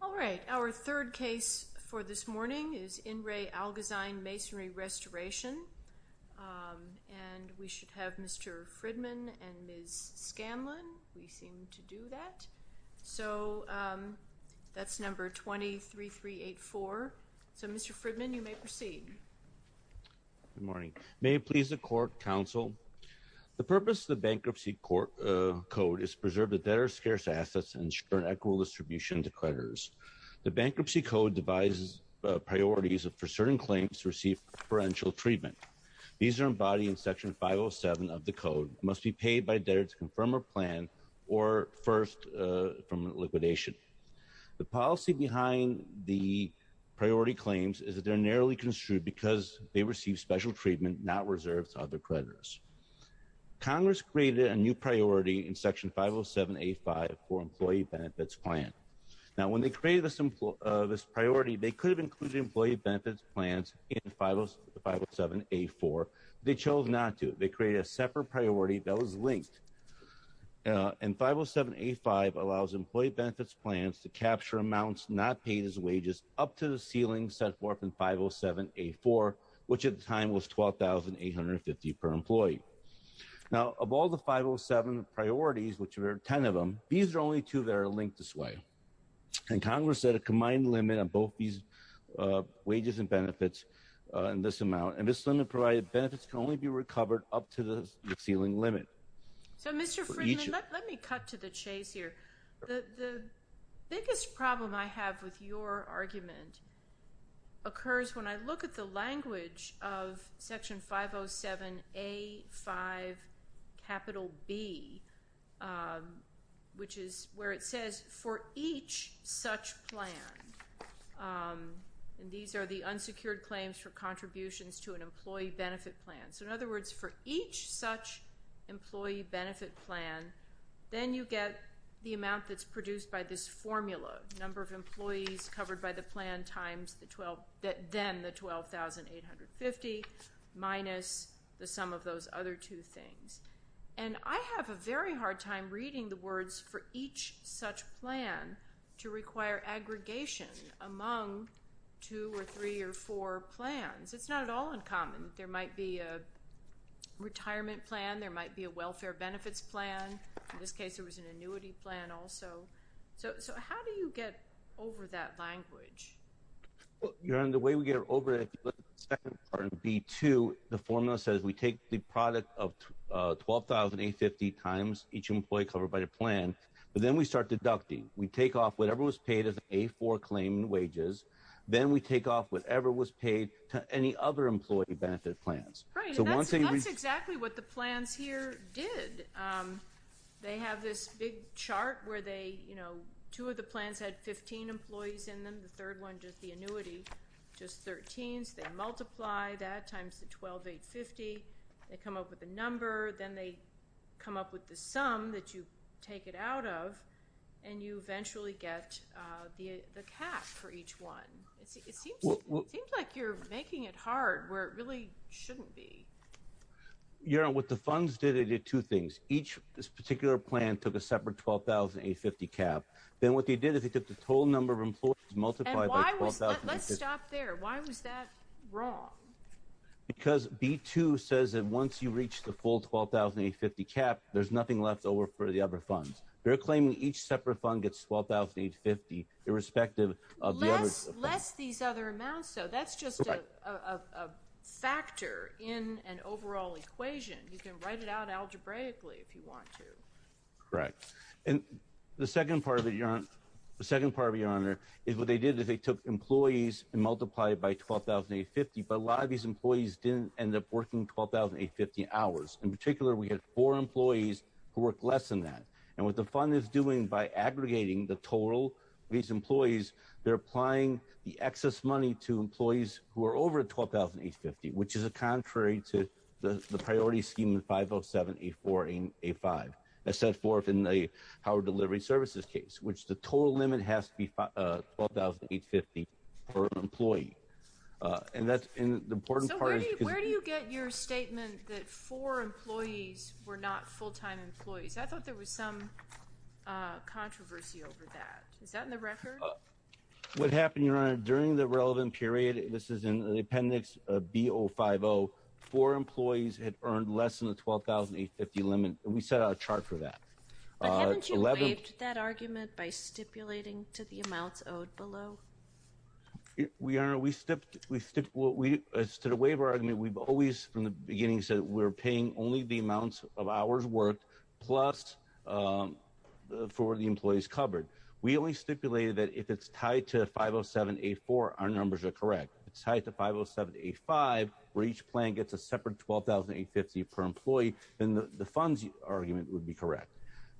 All right, our third case for this morning is in re Algozine Masonry Restoration, and we should have Mr. Fridman and Ms. Scanlon. We seem to do that. So that's number 23384. So Mr. Fridman, you may proceed. Good morning. May it please the court, counsel. The purpose of the bankruptcy court code is to preserve the debtor's scarce assets and The bankruptcy code devises priorities for certain claims to receive preferential treatment. These are embodied in Section 507 of the code, must be paid by debtor to confirm or plan, or first from liquidation. The policy behind the priority claims is that they're narrowly construed because they receive special treatment not reserved to other creditors. Congress created a new priority in Section 507A5 for employee benefits plan. Now, when they created this priority, they could have included employee benefits plans in 507A4. They chose not to. They created a separate priority that was linked. And 507A5 allows employee benefits plans to capture amounts not paid as wages up to the ceiling set forth in 507A4, which at the time was $12,850 per employee. Now, of all the 507 priorities, which were 10 of them, these are only two that are linked this way. And Congress set a combined limit on both these wages and benefits in this amount. And this limit provided benefits can only be recovered up to the ceiling limit. So, Mr. Friedman, let me cut to the chase here. The biggest problem I have with your argument occurs when I look at the language of the 507B, which is where it says, for each such plan. And these are the unsecured claims for contributions to an employee benefit plan. So, in other words, for each such employee benefit plan, then you get the amount that's produced by this formula, number of employees covered by the plan that then the $12,850 minus the sum of those other two things. And I have a very hard time reading the words for each such plan to require aggregation among two or three or four plans. It's not at all uncommon. There might be a retirement plan. There might be a welfare benefits plan. In this case, there was an annuity plan also. So, how do you get over that language? Your Honor, the way we get over it, if you look at the second part of B2, the formula says we take the product of $12,850 times each employee covered by the plan, but then we start deducting. We take off whatever was paid as an A4 claim in wages. Then we take off whatever was paid to any other employee benefit plans. Right. That's exactly what the plans here did. They have this big annuity, just 13s. They multiply that times the $12,850. They come up with a number. Then they come up with the sum that you take it out of, and you eventually get the cap for each one. It seems like you're making it hard where it really shouldn't be. Your Honor, what the funds did, they did two things. Each particular plan took a separate $12,850 cap. Then what they did is they took the total number of employees multiplied by $12,850. Let's stop there. Why was that wrong? Because B2 says that once you reach the full $12,850 cap, there's nothing left over for the other funds. They're claiming each separate fund gets $12,850 irrespective of the others. Less these other amounts, so that's just a factor in an overall equation. You can write it out The second part, Your Honor, is what they did is they took employees and multiplied by $12,850, but a lot of these employees didn't end up working $12,850 hours. In particular, we had four employees who worked less than that. What the fund is doing by aggregating the total of these employees, they're applying the excess money to employees who are over $12,850, which is a contrary to the priority scheme in 507, 8-4, 8-5, as set forth in the power delivery services case, which the total limit has to be $12,850 per employee. And that's the important part. Where do you get your statement that four employees were not full-time employees? I thought there was some controversy over that. Is that in the record? What happened, Your Honor, during the relevant period, this is in the appendix B050, four employees had earned less than the $12,850 limit. We set out a chart for that. But haven't you waived that argument by stipulating to the amounts owed below? Your Honor, as to the waiver argument, we've always from the beginning said we're paying only the amounts of hours worked plus for the employees covered. We only stipulated that if it's tied to 507, 8-4, our numbers are correct. It's tied to 507, 8-5, where each plan gets a separate $12,850 per employee, then the funds argument would be correct.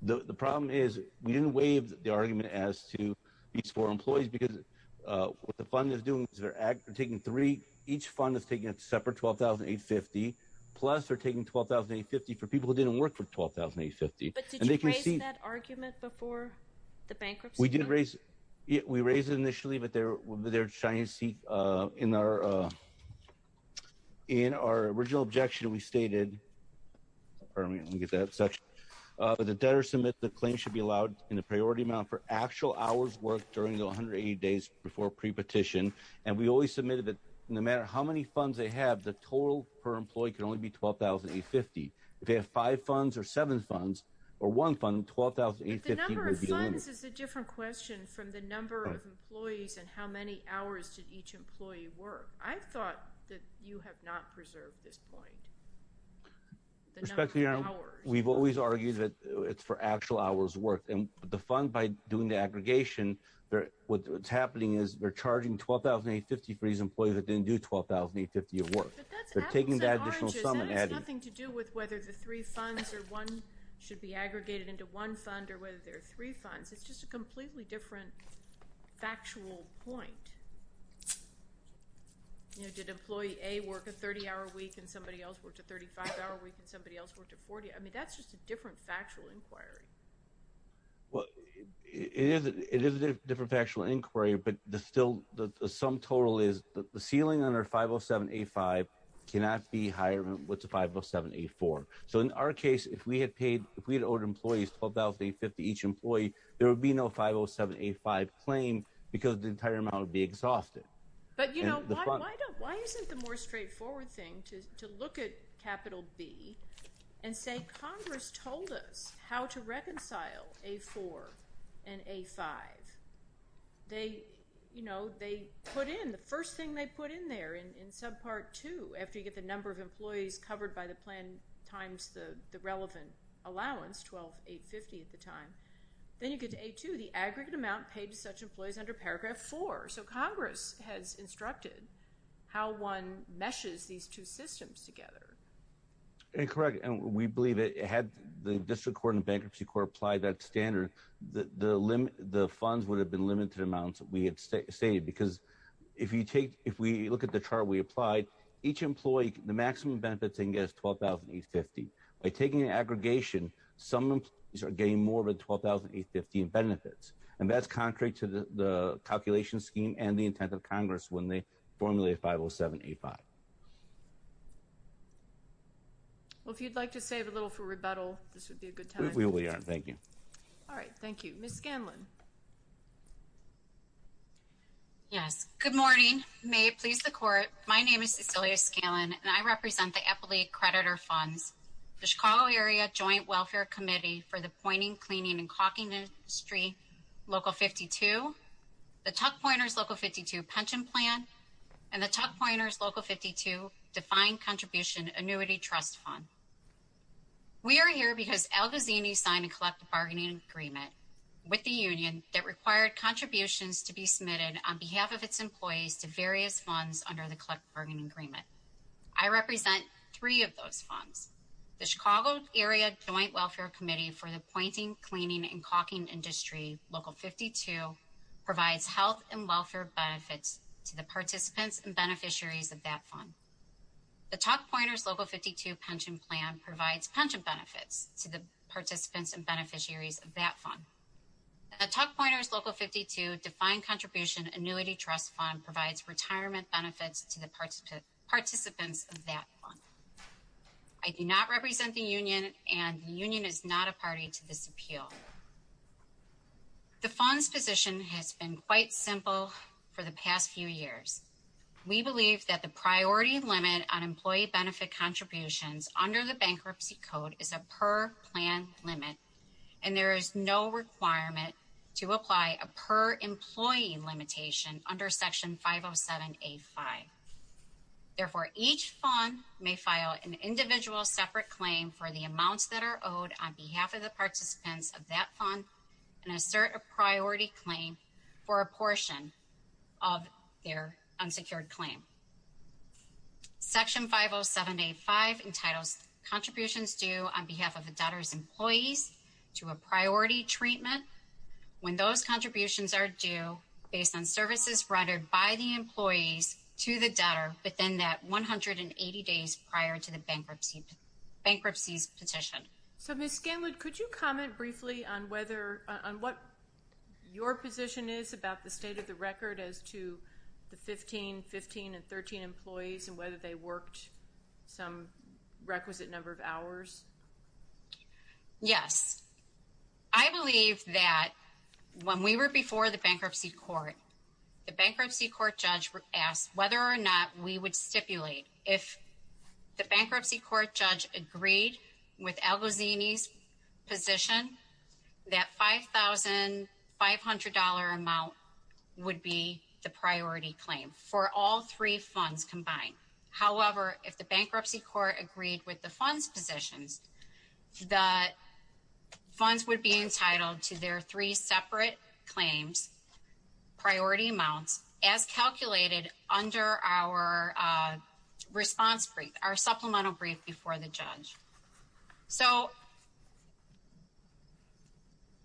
The problem is we didn't waive the argument as to these four employees because what the fund is doing is they're taking three, each fund is taking a separate $12,850, plus they're taking $12,850 for people who didn't work for $12,850. But did you raise that argument before the bankruptcy? We did raise it. We raised it initially, but they're trying to seek, in our original objection, we stated, pardon me, let me get that section, but the debtor submits the claim should be allowed in the priority amount for actual hours worked during the 180 days before pre-petition. And we always submitted that no matter how many funds they have, the total per employee can only be $12,850. If they have five funds or seven funds or one fund, $12,850 would be the limit. The number of funds is a different question from the number of employees and how many hours did each employee work. I thought that you have not preserved this point. Respectfully, we've always argued that it's for actual hours worked. And the fund, by doing the aggregation, what's happening is they're charging $12,850 for these employees that didn't do $12,850 of work. They're taking that additional sum and adding it. That has nothing to do with whether the three funds or one should be aggregated into one fund or whether there are three funds. It's just a completely different factual point. You know, did employee A work a 30-hour week and somebody else worked a 35-hour week and somebody else worked a 40? I mean that's just a different factual inquiry. Well, it is a different factual inquiry, but the sum total is the ceiling under 507A5 cannot be higher than what's 507A4. So in our case, if we had paid, if we had owed employees $12,850 each employee, there would be no 507A5 claim because the entire amount would be exhausted. But you know, why isn't the more straightforward thing to look at capital B and say Congress told us how to reconcile A4 and A5? They, you know, they put in, the first thing they put in there in subpart two, after you get the number of employees covered by the plan times the relevant allowance, $12,850 at the time, then you get to A2, the aggregate amount paid to such employees under paragraph four. So Congress has instructed how one meshes these two systems together. Incorrect, and we believe it had the amounts we had saved because if you take, if we look at the chart we applied, each employee, the maximum benefits they can get is $12,850. By taking an aggregation, some employees are getting more than $12,850 in benefits, and that's contrary to the calculation scheme and the intent of Congress when they formulated 507A5. Well, if you'd like to save a little for rebuttal, this would be a good time. We really are, thank you. All right, thank you. Ms. Scanlon. Yes, good morning. May it please the Court, my name is Cecilia Scanlon, and I represent the Eppley Creditor Funds, the Chicago Area Joint Welfare Committee for the Pointing, Cleaning, and Caulking Industry Local 52, the Tuck Pointers Local 52 Pension Plan, and the Tuck Pointers Local 52 Defined Contribution Annuity Trust Fund. We are here because Al Gazzini signed a collective agreement with the union that required contributions to be submitted on behalf of its employees to various funds under the collective bargaining agreement. I represent three of those funds. The Chicago Area Joint Welfare Committee for the Pointing, Cleaning, and Caulking Industry Local 52 provides health and welfare benefits to the participants and beneficiaries of that fund. The Tuck Pointers Local 52 Pension Plan provides pension benefits to the participants and beneficiaries of that fund. The Tuck Pointers Local 52 Defined Contribution Annuity Trust Fund provides retirement benefits to the participants of that fund. I do not represent the union, and the union is not a party to this appeal. The fund's position has been quite simple for the past few years. We believe that the limit is a per-plan limit, and there is no requirement to apply a per-employee limitation under Section 507A5. Therefore, each fund may file an individual separate claim for the amounts that are owed on behalf of the participants of that fund and assert a priority claim for a portion of their unsecured claim. Section 507A5 entitles contributions due on behalf of the debtor's employees to a priority treatment when those contributions are due based on services rendered by the employees to the debtor within that 180 days prior to the bankruptcy's petition. Ms. Scanlon, could you comment briefly on what your position is about the state of the record as to the 15, 15, and 13 employees and whether they worked some requisite number of hours? Yes. I believe that when we were before the bankruptcy court, the bankruptcy court judge asked whether or not we would stipulate. If the bankruptcy court judge agreed with Al-Ghazini's position, that $5,500 amount would be the priority claim for all three funds combined. However, if the bankruptcy court agreed with the fund's positions, the funds would be entitled to their three separate claims priority amounts as calculated under our response brief, our supplemental brief before the judge. So,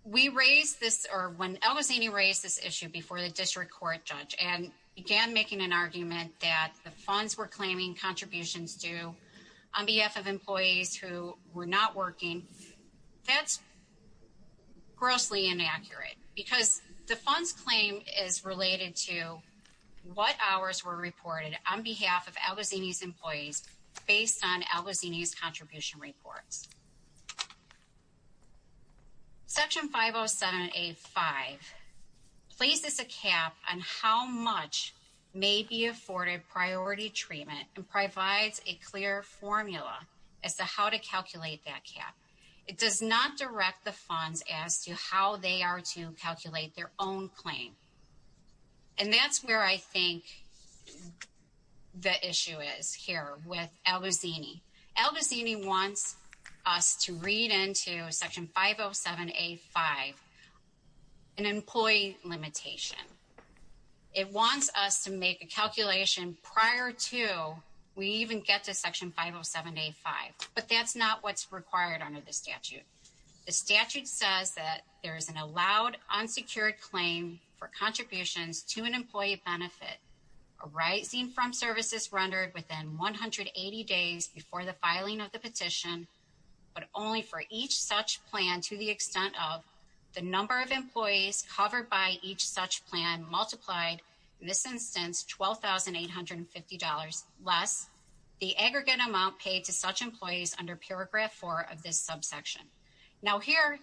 we raised this or when Al-Ghazini raised this issue before the district court judge and began making an argument that the funds were claiming contributions due on behalf of employees who were not working, that's grossly inaccurate because the fund's claim is related to what hours were reported on behalf of Al-Ghazini's employees based on Al-Ghazini's contribution reports. Section 507A5 places a cap on how much may be afforded priority treatment and provides a clear formula as to how to calculate that cap. It does not direct the funds as to how they are to calculate their own claim. And that's where I think the issue is here with Al-Ghazini. Al-Ghazini wants us to read into Section 507A5, an employee limitation. It wants us to make a calculation prior to we even get to Section 507A5, but that's not what's required under the statute. The statute says that there is an allowed unsecured claim for contributions to an employee benefit arising from services rendered within 180 days before the filing of the petition, but only for each such plan to the extent of the number of employees covered by each such plan multiplied, in this instance, $12,850 less the aggregate amount paid to such employees under Paragraph 4 of this subsection. Now here,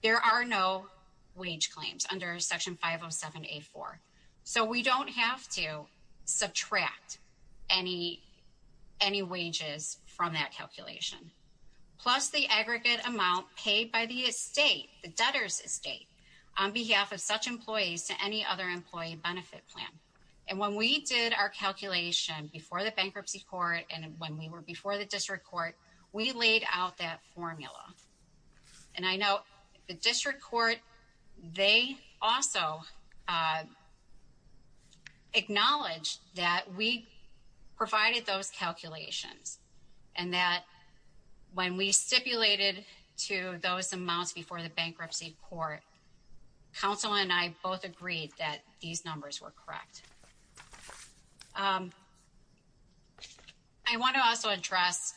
there are no wage claims under Section 507A4, so we don't have to subtract any wages from that calculation, plus the aggregate amount paid by the estate, the debtor's estate, on behalf of such employees to any other employee benefit plan. And when we did our calculation before the bankruptcy court and when we were before the district court, we laid out that formula. And I know the district court, they also acknowledged that we provided those calculations, and that when we stipulated to those amounts before the bankruptcy court, counsel and I both agreed that these numbers were correct. I want to also address,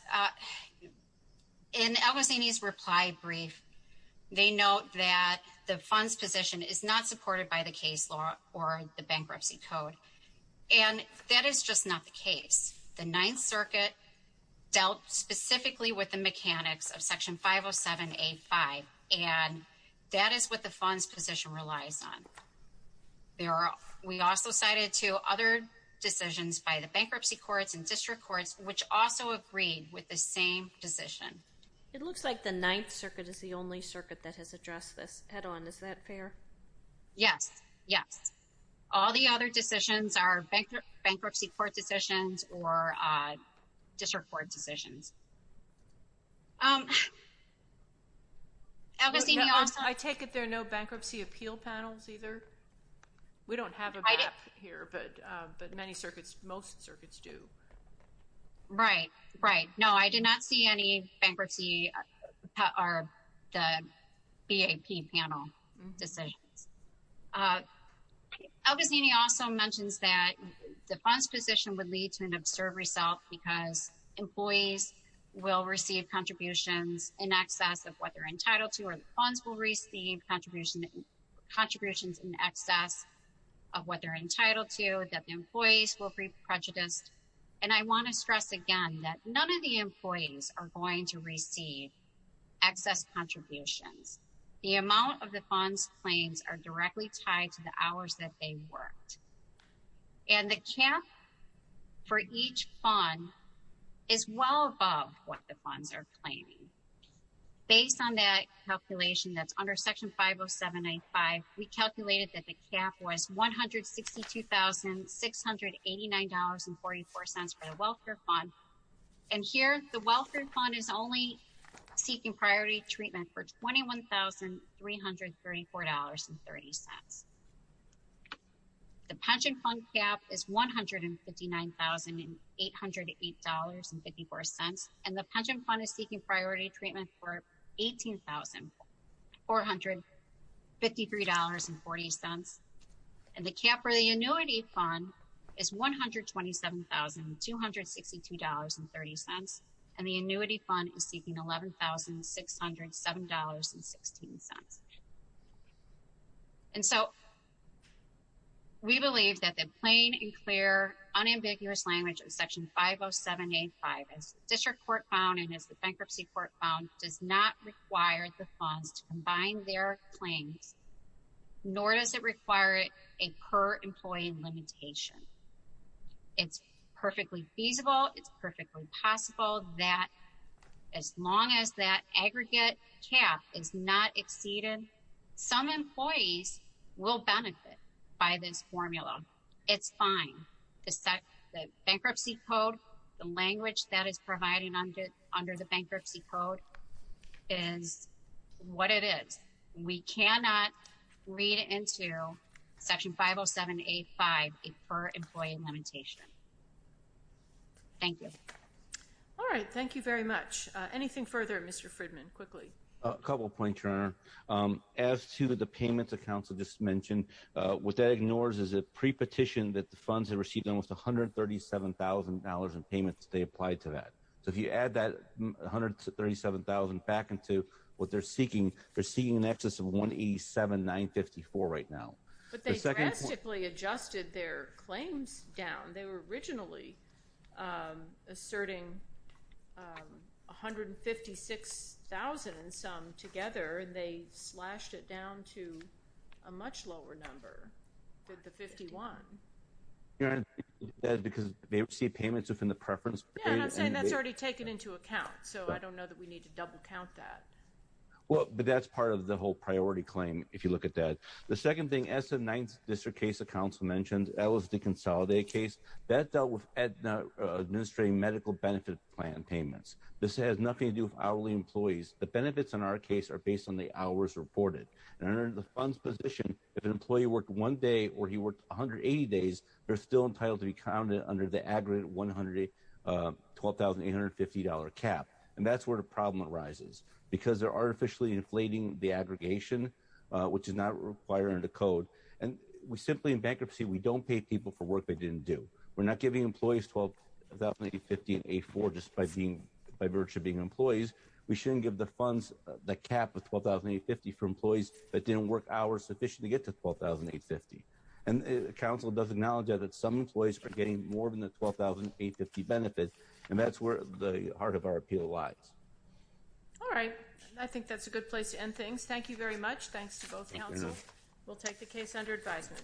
in Al-Ghazni's reply brief, they note that the funds position is not supported by the case law or the bankruptcy code, and that is just not the case. The Ninth Circuit dealt specifically with the mechanics of Section 507A5, and that is what the funds position relies on. We also cited two other decisions by the bankruptcy courts and district courts, which also agreed with the same decision. It looks like the Ninth Circuit is the only circuit that has addressed this head-on. Is that fair? Yes, yes. All the other decisions are bankruptcy court decisions or district court decisions. I take it there are no bankruptcy appeal panels either? We don't have a BAP here, but many circuits, most circuits do. Right, right. No, I did not see any bankruptcy, or the BAP panel decisions. Al-Ghazni also mentions that the funds position would lead to an absurd result because employees will receive contributions in excess of what they're entitled to, or the funds will receive contributions in excess of what they're entitled to, that the employees will be prejudiced. And I want to stress again that none of the employees are going to receive excess contributions. The amount of the funds claims are directly tied to the hours that they worked. And the cap for each fund is well above what the funds are claiming. Based on that calculation that's under Section 50785, we calculated that the cap was $162,689.44 for the welfare fund, and here the welfare fund is only seeking priority treatment for $21,334.30. The pension fund cap is $159,808.54, and the pension fund is seeking priority treatment for $18,453.40. And the cap for the annuity fund is $127,262.30, and the annuity fund is seeking $11,607.16. And so we believe that the plain and clear unambiguous language of Section 50785 as the District Court found and as the Bankruptcy Court found does not require the funds to combine their claims, nor does it require a per-employee limitation. It's perfectly feasible, it's that aggregate cap is not exceeded. Some employees will benefit by this formula. It's fine. The bankruptcy code, the language that is provided under the bankruptcy code is what it is. We cannot read into Section 50785 a per-employee limitation. Thank you. All right, thank you very much. Anything further, Mr. Fridman, quickly? A couple of points, Your Honor. As to the payment accounts I just mentioned, what that ignores is a pre-petition that the funds have received almost $137,000 in payments they applied to that. So if you add that $137,000 back into what they're seeking, they're seeking in excess of $187,954 right now. But they drastically adjusted their claims down. They were originally asserting $156,000 in sum together and they slashed it down to a much lower number than the $51,000. Your Honor, you're saying that because they received payments within the preference period? Yeah, and I'm saying that's already taken into account. So I don't know that we need to double count that. Well, but that's part of the whole priority claim if you look at that. The second thing, as the ninth district case the council mentioned, that was the Consolidate case, that dealt with administering medical benefit plan payments. This has nothing to do with hourly employees. The benefits in our case are based on the hours reported. And under the funds position, if an employee worked one day or he worked 180 days, they're still entitled to be counted under the aggregate $112,850 cap. And that's where the problem arises. Because they're artificially inflating the aggregation, which is not required under the code. And simply in bankruptcy, we don't pay people for work they didn't do. We're not giving employees $112,850 in A4 just by virtue of being employees. We shouldn't give the funds, the cap of $112,850 for employees that didn't work hours sufficient to get to $12,850. And the council does acknowledge that some employees are getting more than the $12,850 benefit. And that's where the heart of our appeal lies. All right. I think that's a good place to end things. Thank you very much. Thanks to both. We'll take the case under advisement.